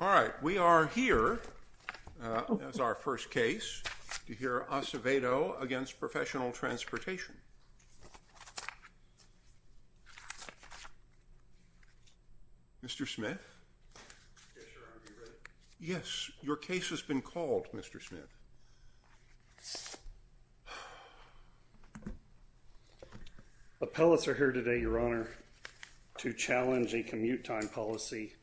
All right, we are here as our first case to hear Acevedo against professional transportation Mr. Smith, yes, your case has been called. Mr. Smith Appellants are here today your honor To challenge a commute time policy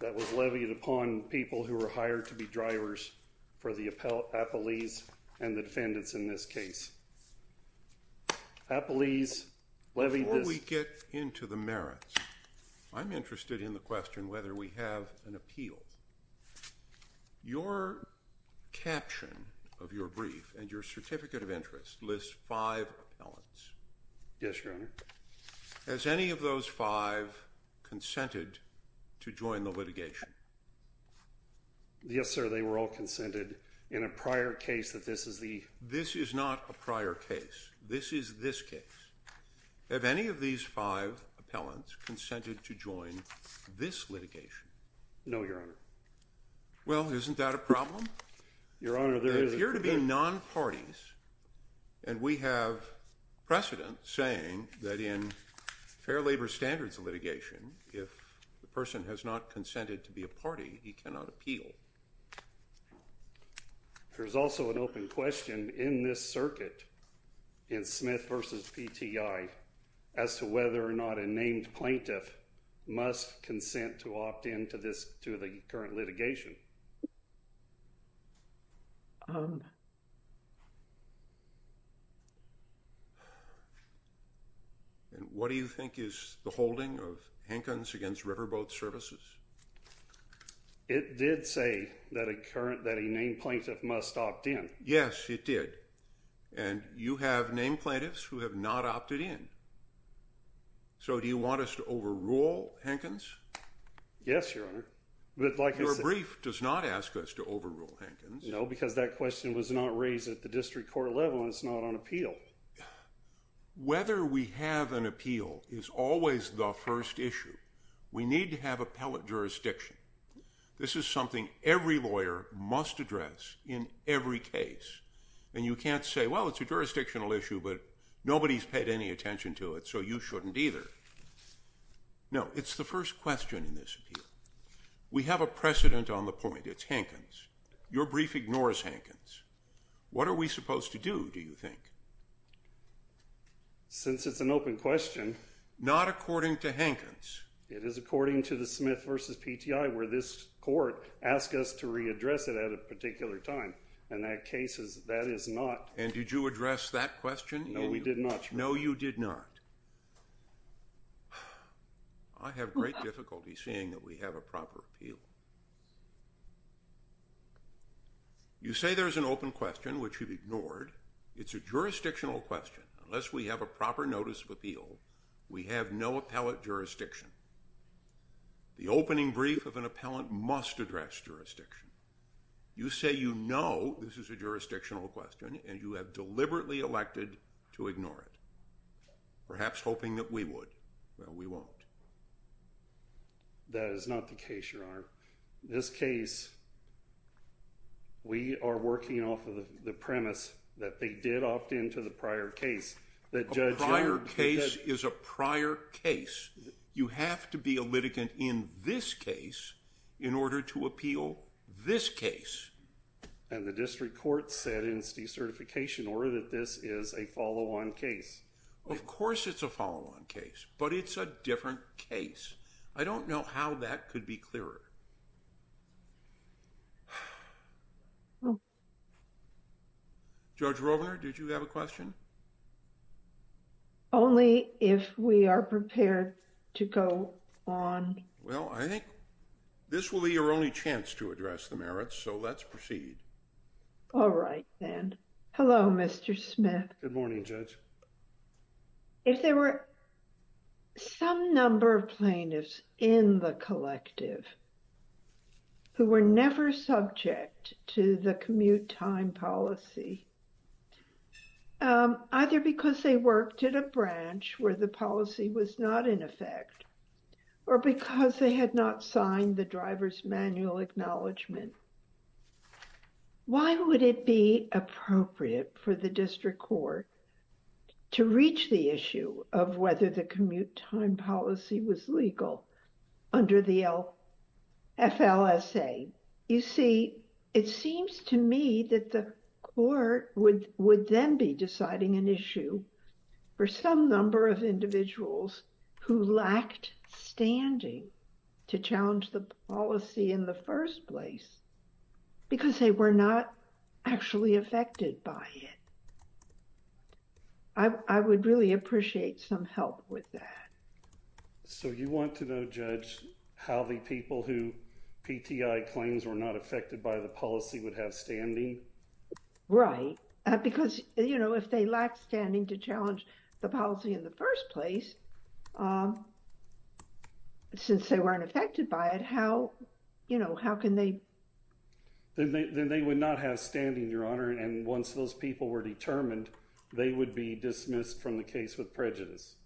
That was levied upon people who were hired to be drivers for the appellate appellees and the defendants in this case Appellees levy we get into the merits. I'm interested in the question whether we have an appeal Your Caption of your brief and your certificate of interest lists five elements Yes, your honor as any of those five Consented to join the litigation Yes, sir, they were all consented in a prior case that this is the this is not a prior case this is this case Have any of these five appellants consented to join this litigation? No, your honor Well, isn't that a problem? Your honor? There's here to be non parties and we have precedent saying that in Fair labor standards of litigation if the person has not consented to be a party he cannot appeal There's also an open question in this circuit in Smith versus PTI as to whether or not a named plaintiff Must consent to opt in to this to the current litigation And what do you think is the holding of Hankins against riverboat services It did say that a current that a named plaintiff must opt in. Yes, it did and You have named plaintiffs who have not opted in So do you want us to overrule Hankins? Yes, your honor But like your brief does not ask us to overrule Hankins No, because that question was not raised at the district court level and it's not on appeal Whether we have an appeal is always the first issue. We need to have appellate jurisdiction This is something every lawyer must address in every case and you can't say well It's a jurisdictional issue, but nobody's paid any attention to it. So you shouldn't either No, it's the first question in this We have a precedent on the point. It's Hankins your brief ignores Hankins. What are we supposed to do? Do you think? Since it's an open question Not according to Hankins It is according to the Smith versus PTI where this court Asked us to readdress it at a particular time and that case is that is not and did you address that question? No, we did not. No you did not. I Have great difficulty seeing that we have a proper appeal You say there's an open question which you've ignored it's a jurisdictional question Unless we have a proper notice of appeal. We have no appellate jurisdiction The opening brief of an appellant must address jurisdiction You say, you know, this is a jurisdictional question and you have deliberately elected to ignore it Perhaps hoping that we would well we won't That is not the case your honor this case We are working off of the premise that they did opt into the prior case that Prior case is a prior case You have to be a litigant in this case in order to appeal this case And the district court said in C certification order that this is a follow-on case Of course, it's a follow-on case, but it's a different case. I don't know how that could be clearer Oh Judge Rovner, did you have a question? Only if we are prepared to go on Well, I think this will be your only chance to address the merits. So let's proceed All right, then. Hello. Mr. Smith. Good morning judge if there were some number of plaintiffs in the collective Who were never subject to the commute time policy Either because they worked at a branch where the policy was not in effect Or because they had not signed the driver's manual acknowledgement Why would it be appropriate for the district court? To reach the issue of whether the commute time policy was legal Under the FLSA you see it seems to me that the court would would then be deciding an issue for some number of individuals who lacked Standing to challenge the policy in the first place Because they were not actually affected by it. I Would really appreciate some help with that So you want to know judge how the people who PTI claims were not affected by the policy would have standing Right because you know if they lack standing to challenge the policy in the first place Since they weren't affected by it, how you know, how can they Then they would not have standing your honor. And once those people were determined they would be dismissed from the case with prejudice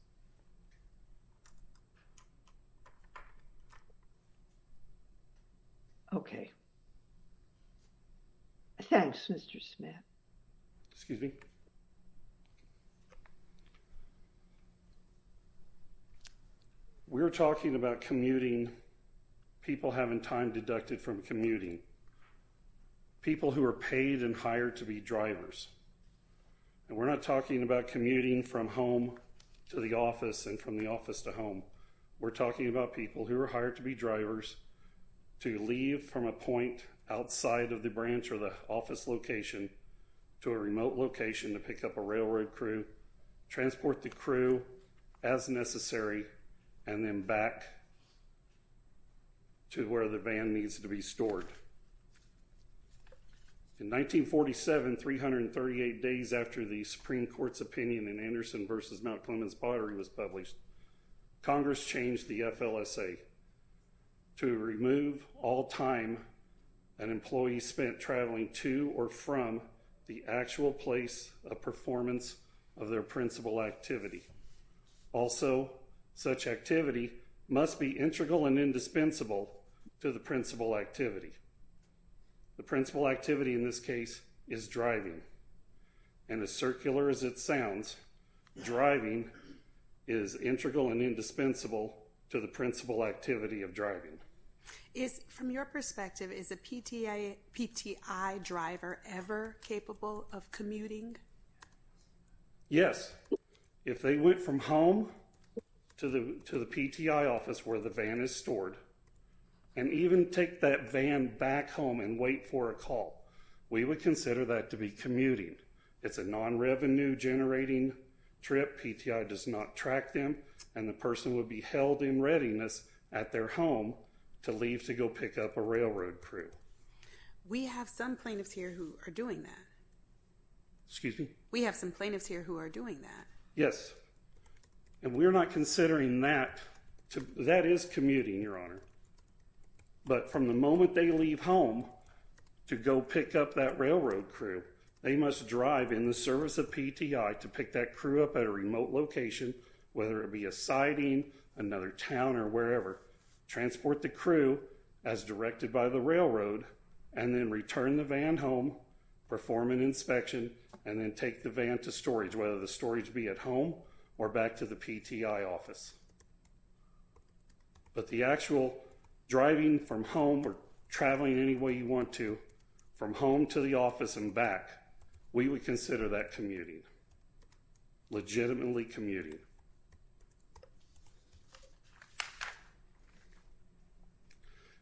Okay Thanks, mr. Smith, excuse me We're talking about commuting people having time deducted from commuting people who are paid and hired to be drivers And we're not talking about commuting from home to the office and from the office to home We're talking about people who are hired to be drivers To leave from a point outside of the branch or the office location To a remote location to pick up a railroad crew transport the crew as necessary and then back To where the van needs to be stored In 1947 338 days after the Supreme Court's opinion in Anderson versus Mount Clemens pottery was published Congress changed the FLSA to remove all time an employee spent traveling to or from the actual place a performance of their principal activity Also such activity must be integral and indispensable to the principal activity The principal activity in this case is driving and as circular as it sounds driving is Integral and indispensable to the principal activity of driving is from your perspective is a PTI PTI driver ever capable of commuting Yes, if they went from home to the to the PTI office where the van is stored and Even take that van back home and wait for a call. We would consider that to be commuting. It's a non-revenue Generating trip PTI does not track them and the person would be held in readiness at their home To leave to go pick up a railroad crew We have some plaintiffs here who are doing that Excuse me. We have some plaintiffs here who are doing that. Yes And we're not considering that to that is commuting your honor But from the moment they leave home To go pick up that railroad crew They must drive in the service of PTI to pick that crew up at a remote location Whether it be a siding another town or wherever Transport the crew as directed by the railroad and then return the van home Perform an inspection and then take the van to storage whether the storage be at home or back to the PTI office But the actual Driving from home or traveling any way you want to from home to the office and back we would consider that commuting Legitimately commuting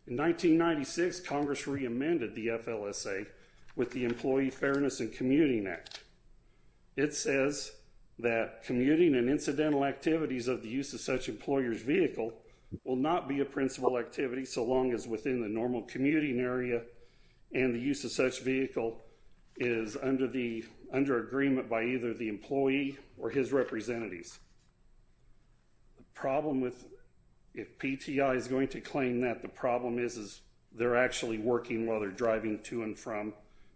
In 1996 Congress reamended the FLSA with the Employee Fairness and Commuting Act It says that commuting and incidental activities of the use of such employers vehicle will not be a principal activity so long as within the normal commuting area and the use of such vehicle is Under the under agreement by either the employee or his representatives the problem with PTI is going to claim that the problem is is they're actually working while they're driving to and from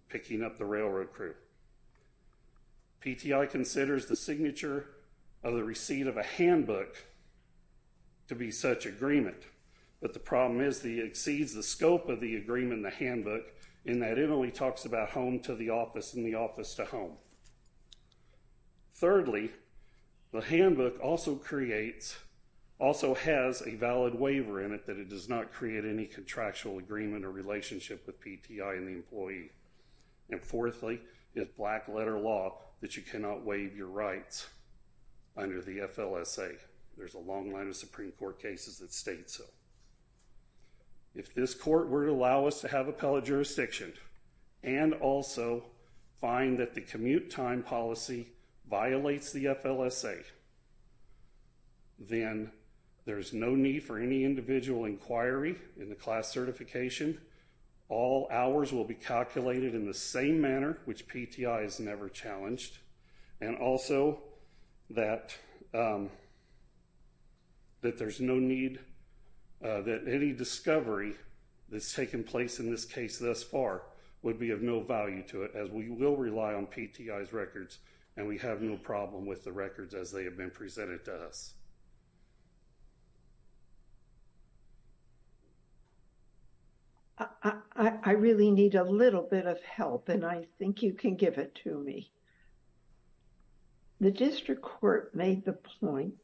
picking up the railroad crew PTI considers the signature of the receipt of a handbook To be such agreement But the problem is the exceeds the scope of the agreement the handbook in that Emily talks about home to the office in the office to home Thirdly the handbook also creates Also has a valid waiver in it that it does not create any contractual agreement or relationship with PTI and the employee And fourthly is black letter law that you cannot waive your rights Under the FLSA. There's a long line of Supreme Court cases that state so if this court were to allow us to have appellate jurisdiction and Also find that the commute time policy violates the FLSA Then there's no need for any individual inquiry in the class certification All hours will be calculated in the same manner which PTI is never challenged and also that That there's no need That any discovery That's taken place in this case thus far Would be of no value to it as we will rely on PTI's records and we have no problem with the records as they have been presented to us III really need a little bit of help and I think you can give it to me The district court made the point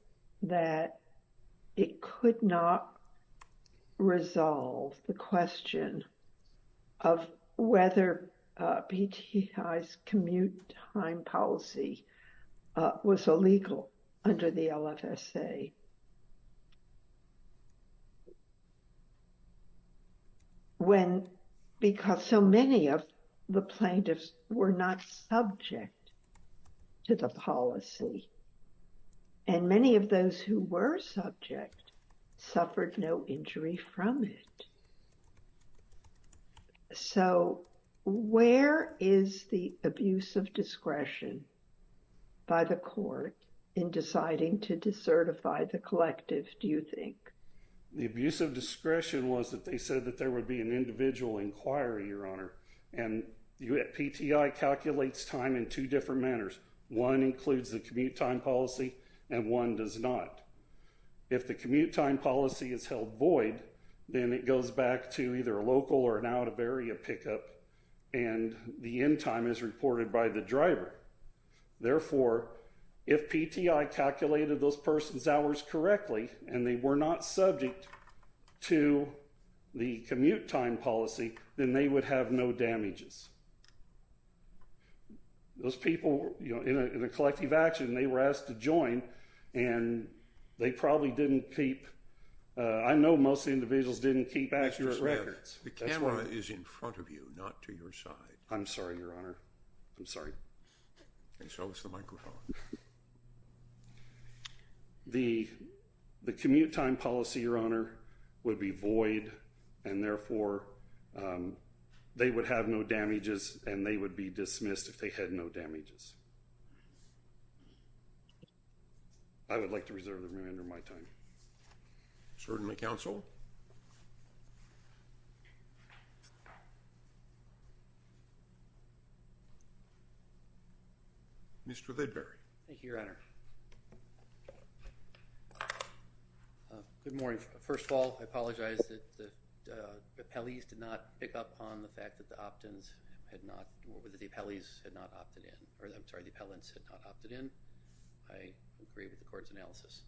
that it could not resolve the question of Whether PTI's commute time policy was illegal under the LFSA When because so many of the plaintiffs were not subject to the policy And many of those who were subject suffered no injury from it So Where is the abuse of discretion? By the court in deciding to decertify the collective. Do you think? The abuse of discretion was that they said that there would be an individual inquiry your honor and You at PTI calculates time in two different manners one includes the commute time policy and one does not if the commute time policy is held void, then it goes back to either a local or an out-of-area pickup and The end time is reported by the driver Therefore if PTI calculated those person's hours correctly and they were not subject to The commute time policy then they would have no damages Those people, you know in a collective action they were asked to join and They probably didn't keep I know most individuals didn't keep actual records The camera is in front of you not to your side. I'm sorry, Your Honor. I'm sorry Show us the microphone The the commute time policy your honor would be void and therefore They would have no damages and they would be dismissed if they had no damages. I Would like to reserve the remainder of my time certainly counsel Mr. Lidbury, thank you, Your Honor Good morning. First of all, I apologize that the Appellees did not pick up on the fact that the opt-ins had not what were the appellees had not opted in or that I'm sorry the appellants had not opted in I agree with the court's analysis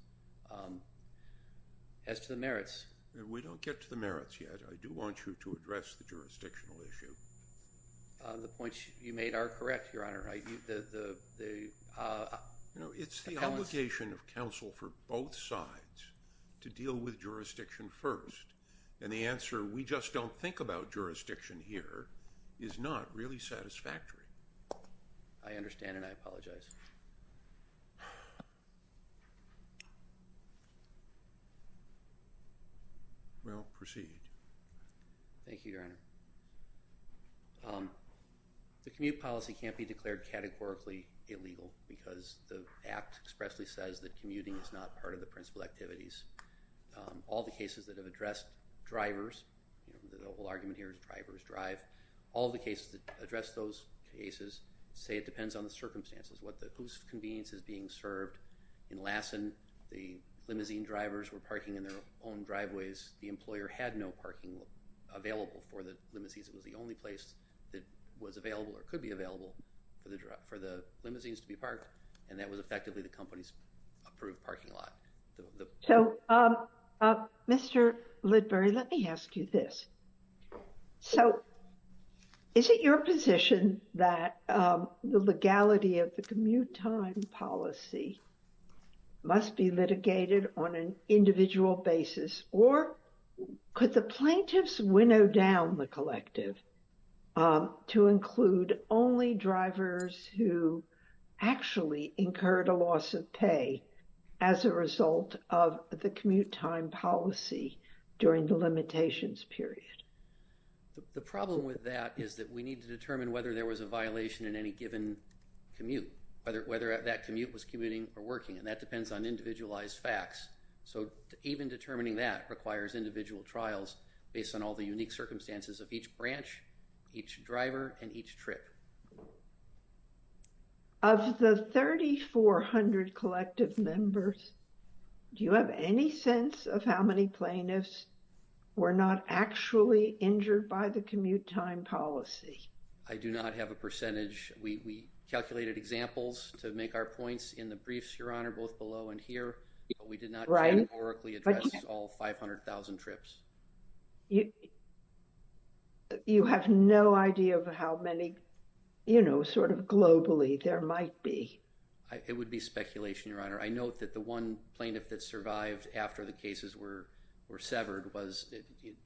As to the merits we don't get to the merits yet. I do want you to address the jurisdictional issue The points you made are correct, Your Honor, right you did the No, it's the application of counsel for both sides To deal with jurisdiction first and the answer we just don't think about jurisdiction here is not really satisfactory. I Understand and I apologize Well proceed, thank you, Your Honor The commute policy can't be declared categorically illegal because the act expressly says that commuting is not part of the principal activities All the cases that have addressed Drivers the whole argument here is drivers drive all the cases that address those cases say it depends on the circumstances what the whose convenience is being served in Lassen the Limousine drivers were parking in their own driveways. The employer had no parking Available for the limousines It was the only place that was available or could be available for the drive for the limousines to be parked And that was effectively the company's approved parking lot so Mr. Lidbury, let me ask you this so Is it your position that? the legality of the commute time policy must be litigated on an individual basis or Could the plaintiffs winnow down the collective to include only drivers who Actually incurred a loss of pay as a result of the commute time policy during the limitations period The problem with that is that we need to determine whether there was a violation in any given Commute whether whether that commute was commuting or working and that depends on individualized facts So even determining that requires individual trials based on all the unique circumstances of each branch each driver and each trip Of the 3,400 collective members Do you have any sense of how many plaintiffs? Were not actually injured by the commute time policy. I do not have a percentage We calculated examples to make our points in the briefs your honor both below and here We did not write orically address all 500,000 trips you You have no idea of how many You know sort of globally there might be it would be speculation your honor I note that the one plaintiff that survived after the cases were were severed was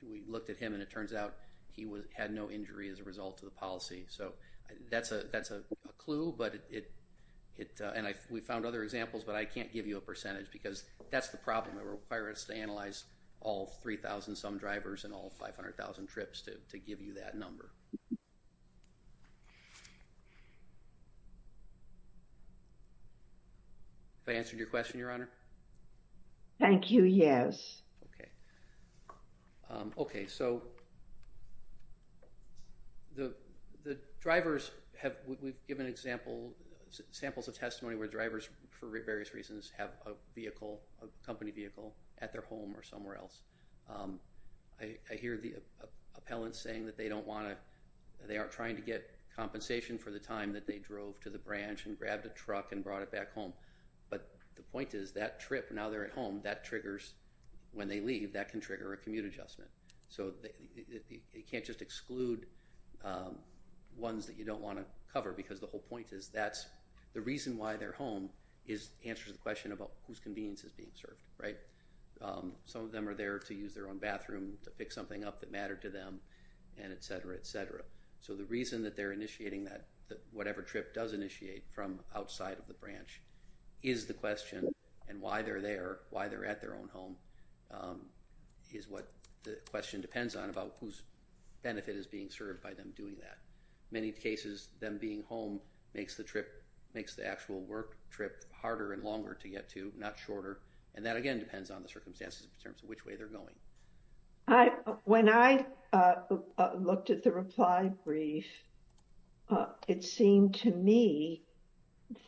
We looked at him and it turns out he was had no injury as a result of the policy So that's a that's a clue, but it it and I we found other examples But I can't give you a percentage because that's the problem that requires to analyze all 3,000 some drivers and all 500,000 trips to give you that number If I answered your question your honor, thank you. Yes. Okay. Okay, so The the drivers have we've given example Samples of testimony where drivers for various reasons have a vehicle a company vehicle at their home or somewhere else I hear the Appellant saying that they don't want to they aren't trying to get Compensation for the time that they drove to the branch and grabbed a truck and brought it back home But the point is that trip now, they're at home that triggers when they leave that can trigger a commute adjustment. So It can't just exclude Ones that you don't want to cover because the whole point is that's the reason why their home is Answers the question about whose convenience is being served, right? Some of them are there to use their own bathroom to pick something up that mattered to them and etc, etc So the reason that they're initiating that that whatever trip does initiate from outside of the branch is the question and why they're there Why they're at their own home Is what the question depends on about whose Benefit is being served by them doing that many cases them being home makes the trip Makes the actual work trip harder and longer to get to not shorter and that again depends on the circumstances in terms of which way they're going I when I Looked at the reply brief It seemed to me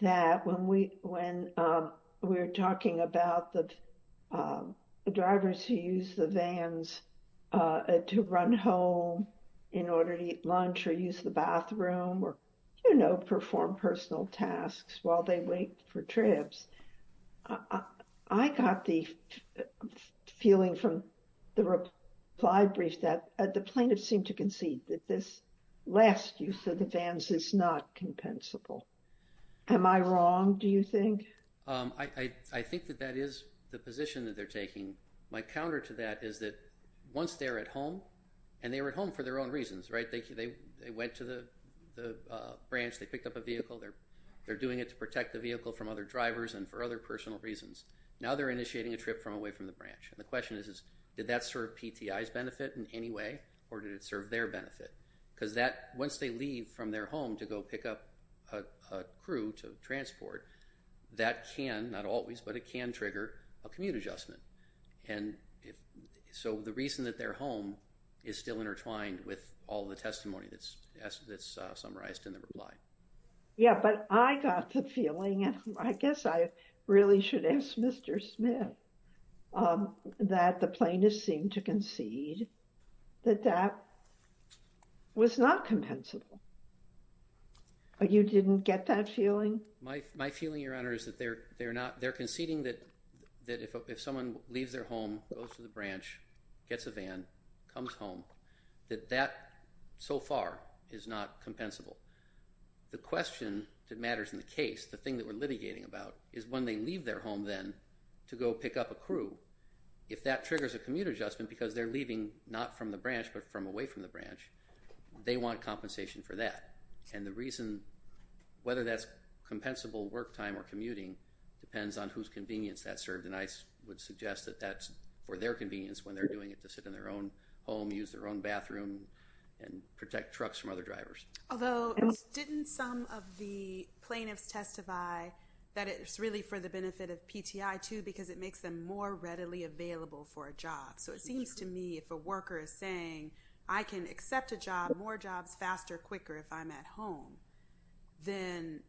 that when we when we're talking about the drivers who use the vans to run home in order to eat lunch or use the bathroom or you know perform personal tasks while they wait for trips I got the feeling from the Reply brief that at the plaintiff seemed to concede that this last use of the vans is not compensable Am I wrong? Do you think I I think that that is the position that they're taking My counter to that is that once they're at home and they were at home for their own reasons, right? Thank you. They they went to the Branch, they picked up a vehicle there They're doing it to protect the vehicle from other drivers and for other personal reasons Now they're initiating a trip from away from the branch And the question is is did that serve PTIs benefit in any way or did it serve their benefit? Because that once they leave from their home to go pick up a crew to transport That can not always but it can trigger a commute adjustment and So the reason that their home is still intertwined with all the testimony that's that's summarized in the reply Yeah, but I got the feeling and I guess I really should ask mr. Smith That the plaintiff seemed to concede that that Was not compensable But you didn't get that feeling my feeling your honor is that they're they're not they're conceding that That if someone leaves their home goes to the branch gets a van comes home that that So far is not compensable The question that matters in the case the thing that we're litigating about is when they leave their home then to go pick up a crew If that triggers a commute adjustment because they're leaving not from the branch but from away from the branch They want compensation for that and the reason whether that's Compensable work time or commuting depends on whose convenience that served and I would suggest that that's for their convenience when they're doing it to sit in their own home use their own bathroom and protect trucks from other drivers, although Didn't some of the plaintiffs testify that it's really for the benefit of PTI too because it makes them more readily Available for a job So it seems to me if a worker is saying I can accept a job more jobs faster quicker if I'm at home then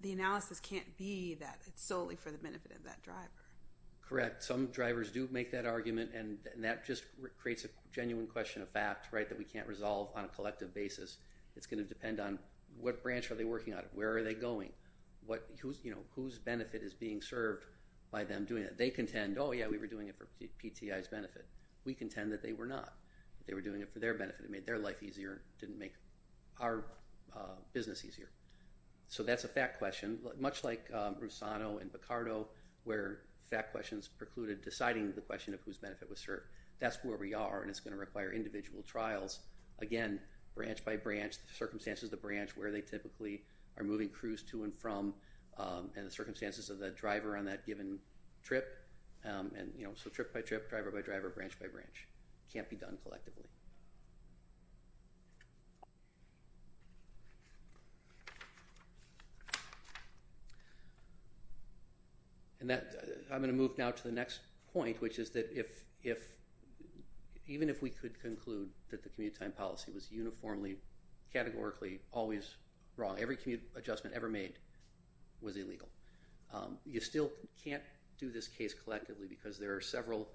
The analysis can't be that it's solely for the benefit of that driver Correct. Some drivers do make that argument and that just creates a genuine question of fact, right that we can't resolve on a collective basis It's going to depend on what branch are they working on? Where are they going what who's you know, whose benefit is being served by them doing that they contend? Oh, yeah, we were doing it for PTIs benefit. We contend that they were not they were doing it for their benefit It made their life easier didn't make our business easier So that's a fact question much like Rusano and Picardo where fact questions precluded deciding the question of whose benefit was served That's where we are and it's going to require individual trials again branch by branch Circumstances the branch where they typically are moving crews to and from And the circumstances of the driver on that given trip And you know, so trip by trip driver by driver branch by branch can't be done collectively And that I'm going to move now to the next point which is that if if Even if we could conclude that the commute time policy was uniformly Categorically always wrong every commute adjustment ever made Was illegal you still can't do this case collectively because there are several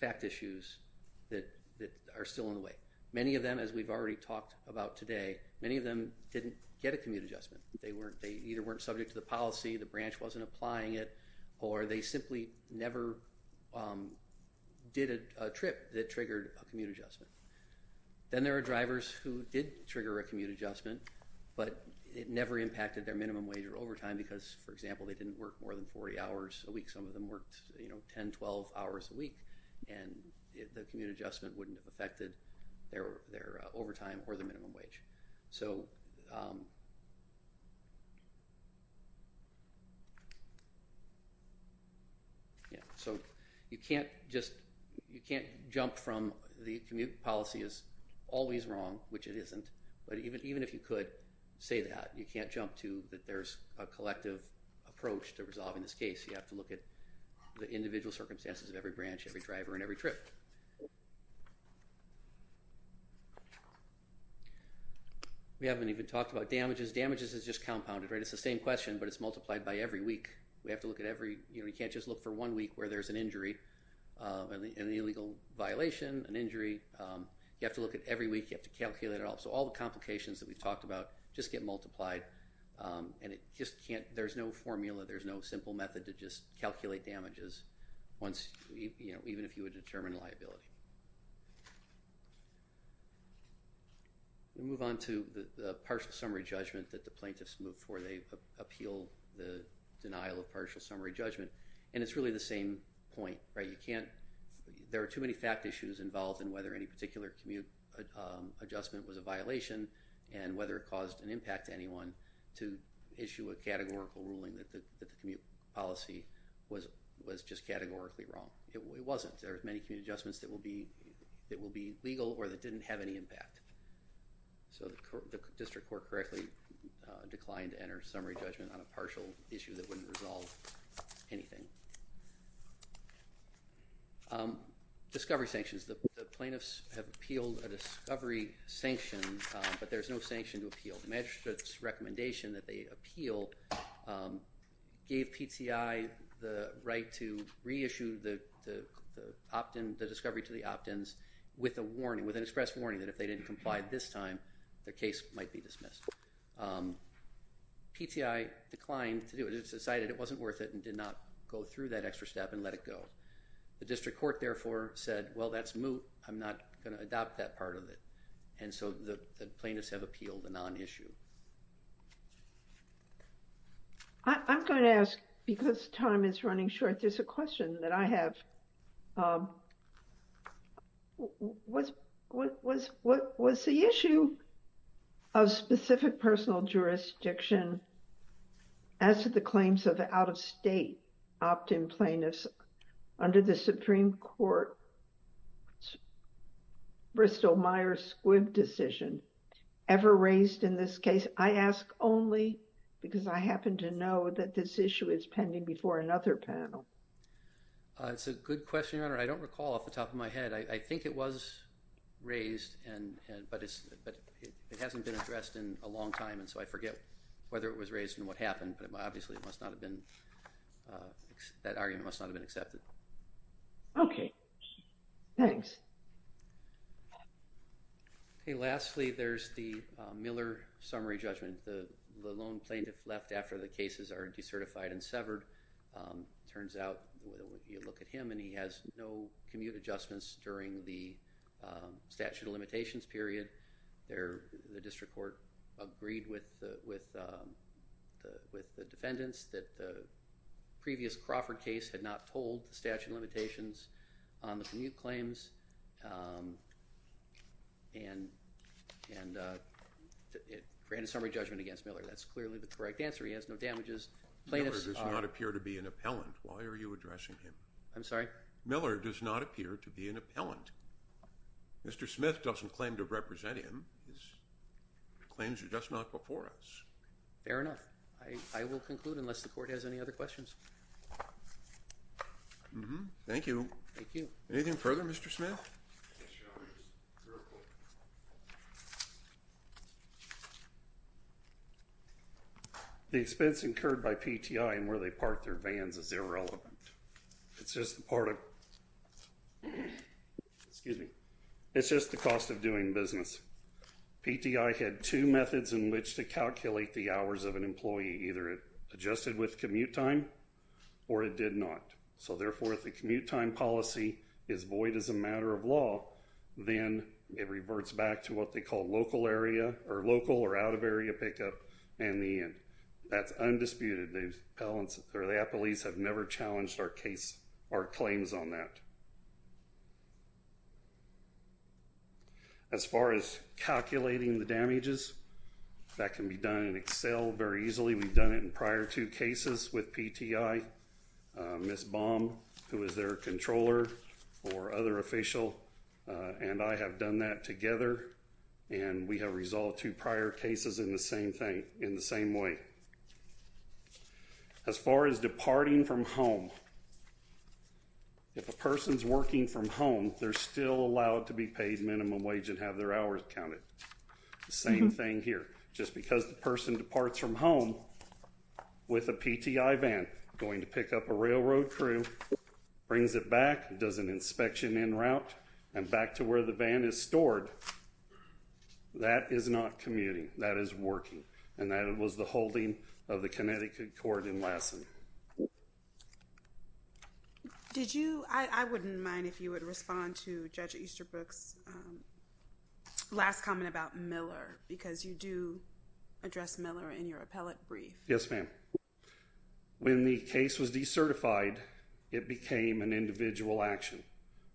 Fact issues that that are still in the way many of them as we've already talked about today Many of them didn't get a commute adjustment. They weren't they either weren't subject to the policy The branch wasn't applying it or they simply never Did a trip that triggered a commute adjustment Then there are drivers who did trigger a commute adjustment But it never impacted their minimum wage or overtime because for example they didn't work more than 40 hours a week some of them worked, you know, 10 12 hours a week and The commute adjustment wouldn't have affected their their overtime or the minimum wage. So You Yeah, so you can't just you can't jump from the commute policy is always wrong Which it isn't but even even if you could say that you can't jump to that There's a collective approach to resolving this case. You have to look at the individual circumstances of every branch every driver and every trip We Haven't even talked about damages damages is just compounded, right? It's the same question, but it's multiplied by every week We have to look at every you know, you can't just look for one week where there's an injury And the illegal violation an injury you have to look at every week you have to calculate it all So all the complications that we've talked about just get multiplied And it just can't there's no formula. There's no simple method to just calculate damages Once you know, even if you would determine liability We move on to the partial summary judgment that the plaintiffs moved for they Appeal the denial of partial summary judgment and it's really the same point, right? You can't there are too many fact issues involved in whether any particular commute Adjustment was a violation and whether it caused an impact to anyone to issue a categorical ruling that the commute Policy was was just categorically wrong It wasn't there's many commute adjustments that will be it will be legal or that didn't have any impact so the District Court correctly Declined to enter summary judgment on a partial issue that wouldn't resolve anything Discovery sanctions the plaintiffs have appealed a discovery sanction, but there's no sanction to appeal the magistrate's recommendation that they appeal Gave PTI the right to reissue the Optin the discovery to the opt-ins with a warning with an express warning that if they didn't complied this time the case might be dismissed PTI declined to do it It's decided it wasn't worth it and did not go through that extra step and let it go The District Court therefore said well, that's moot. I'm not gonna adopt that part of it And so the plaintiffs have appealed the non-issue I'm going to ask because time is running short. There's a question that I have What was what was the issue of specific personal jurisdiction As to the claims of out-of-state opt-in plaintiffs under the Supreme Court It's Bristol Myers Squibb decision ever raised in this case I ask only because I happen to know that this issue is pending before another panel It's a good question. Your honor. I don't recall off the top of my head. I think it was Raised and but it's but it hasn't been addressed in a long time And so I forget whether it was raised and what happened, but obviously it must not have been That argument must not have been accepted Okay, thanks Okay, lastly there's the Miller summary judgment the lone plaintiff left after the cases are decertified and severed turns out look at him and he has no commute adjustments during the statute of limitations period there the District Court agreed with with with the defendants that the Statute of limitations on the commute claims And and It ran a summary judgment against Miller, that's clearly the correct answer. He has no damages Does not appear to be an appellant. Why are you addressing him? I'm sorry. Miller does not appear to be an appellant Mr. Smith doesn't claim to represent him Claims are just not before us fair enough. I will conclude unless the court has any other questions Mm-hmm. Thank you. Thank you anything further. Mr. Smith The expense incurred by PTI and where they park their vans is irrelevant. It's just the part of Excuse me, it's just the cost of doing business PTI had two methods in which to calculate the hours of an employee either it adjusted with commute time Or it did not so therefore if the commute time policy is void as a matter of law Then it reverts back to what they call local area or local or out-of-area pickup and the end that's undisputed They balance or the appellees have never challenged our case our claims on that As far as calculating the damages That can be done in Excel very easily we've done it in prior to cases with PTI Miss bomb who is their controller or other official? And I have done that together and we have resolved two prior cases in the same thing in the same way As far as departing from home If a person's working from home, they're still allowed to be paid minimum wage and have their hours counted The same thing here just because the person departs from home With a PTI van going to pick up a railroad crew Brings it back does an inspection in route and back to where the van is stored That is not commuting that is working and that it was the holding of the Connecticut Court in Lassen Did you I wouldn't mind if you would respond to judge Easter books Last comment about Miller because you do address Miller in your appellate brief. Yes, ma'am When the case was decertified It became an individual action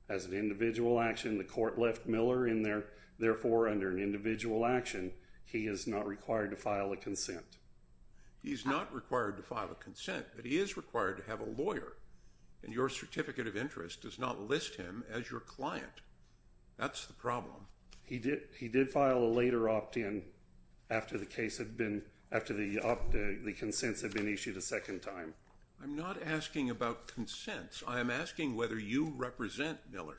as an individual action the court left Miller in there Therefore under an individual action. He is not required to file a consent He's not required to file a consent But he is required to have a lawyer and your certificate of interest does not list him as your client That's the problem He did he did file a later opt-in After the case had been after the up the consents have been issued a second time. I'm not asking about consents I am asking whether you represent Miller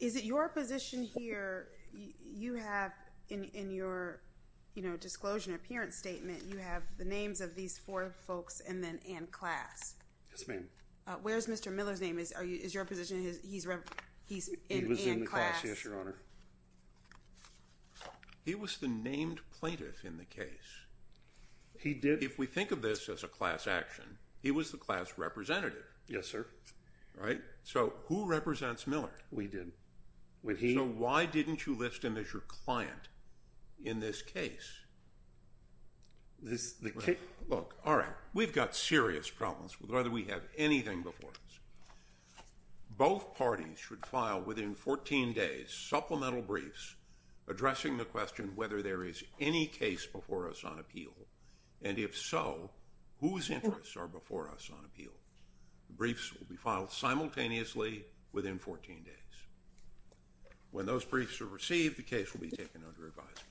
Is it your position here? you have in your You know disclosure appearance statement you have the names of these four folks and then and class. Yes, ma'am Where's mr. Miller's name is are you is your position? He's right? He's He was the named plaintiff in the case He did if we think of this as a class action. He was the class representative. Yes, sir All right. So who represents Miller we did when he why didn't you list him as your client in this case? This is the case look, all right, we've got serious problems with whether we have anything before us Both parties should file within 14 days supplemental briefs Addressing the question whether there is any case before us on appeal and if so Whose interests are before us on appeal briefs will be filed simultaneously within 14 days When those briefs are received the case will be taken under advisement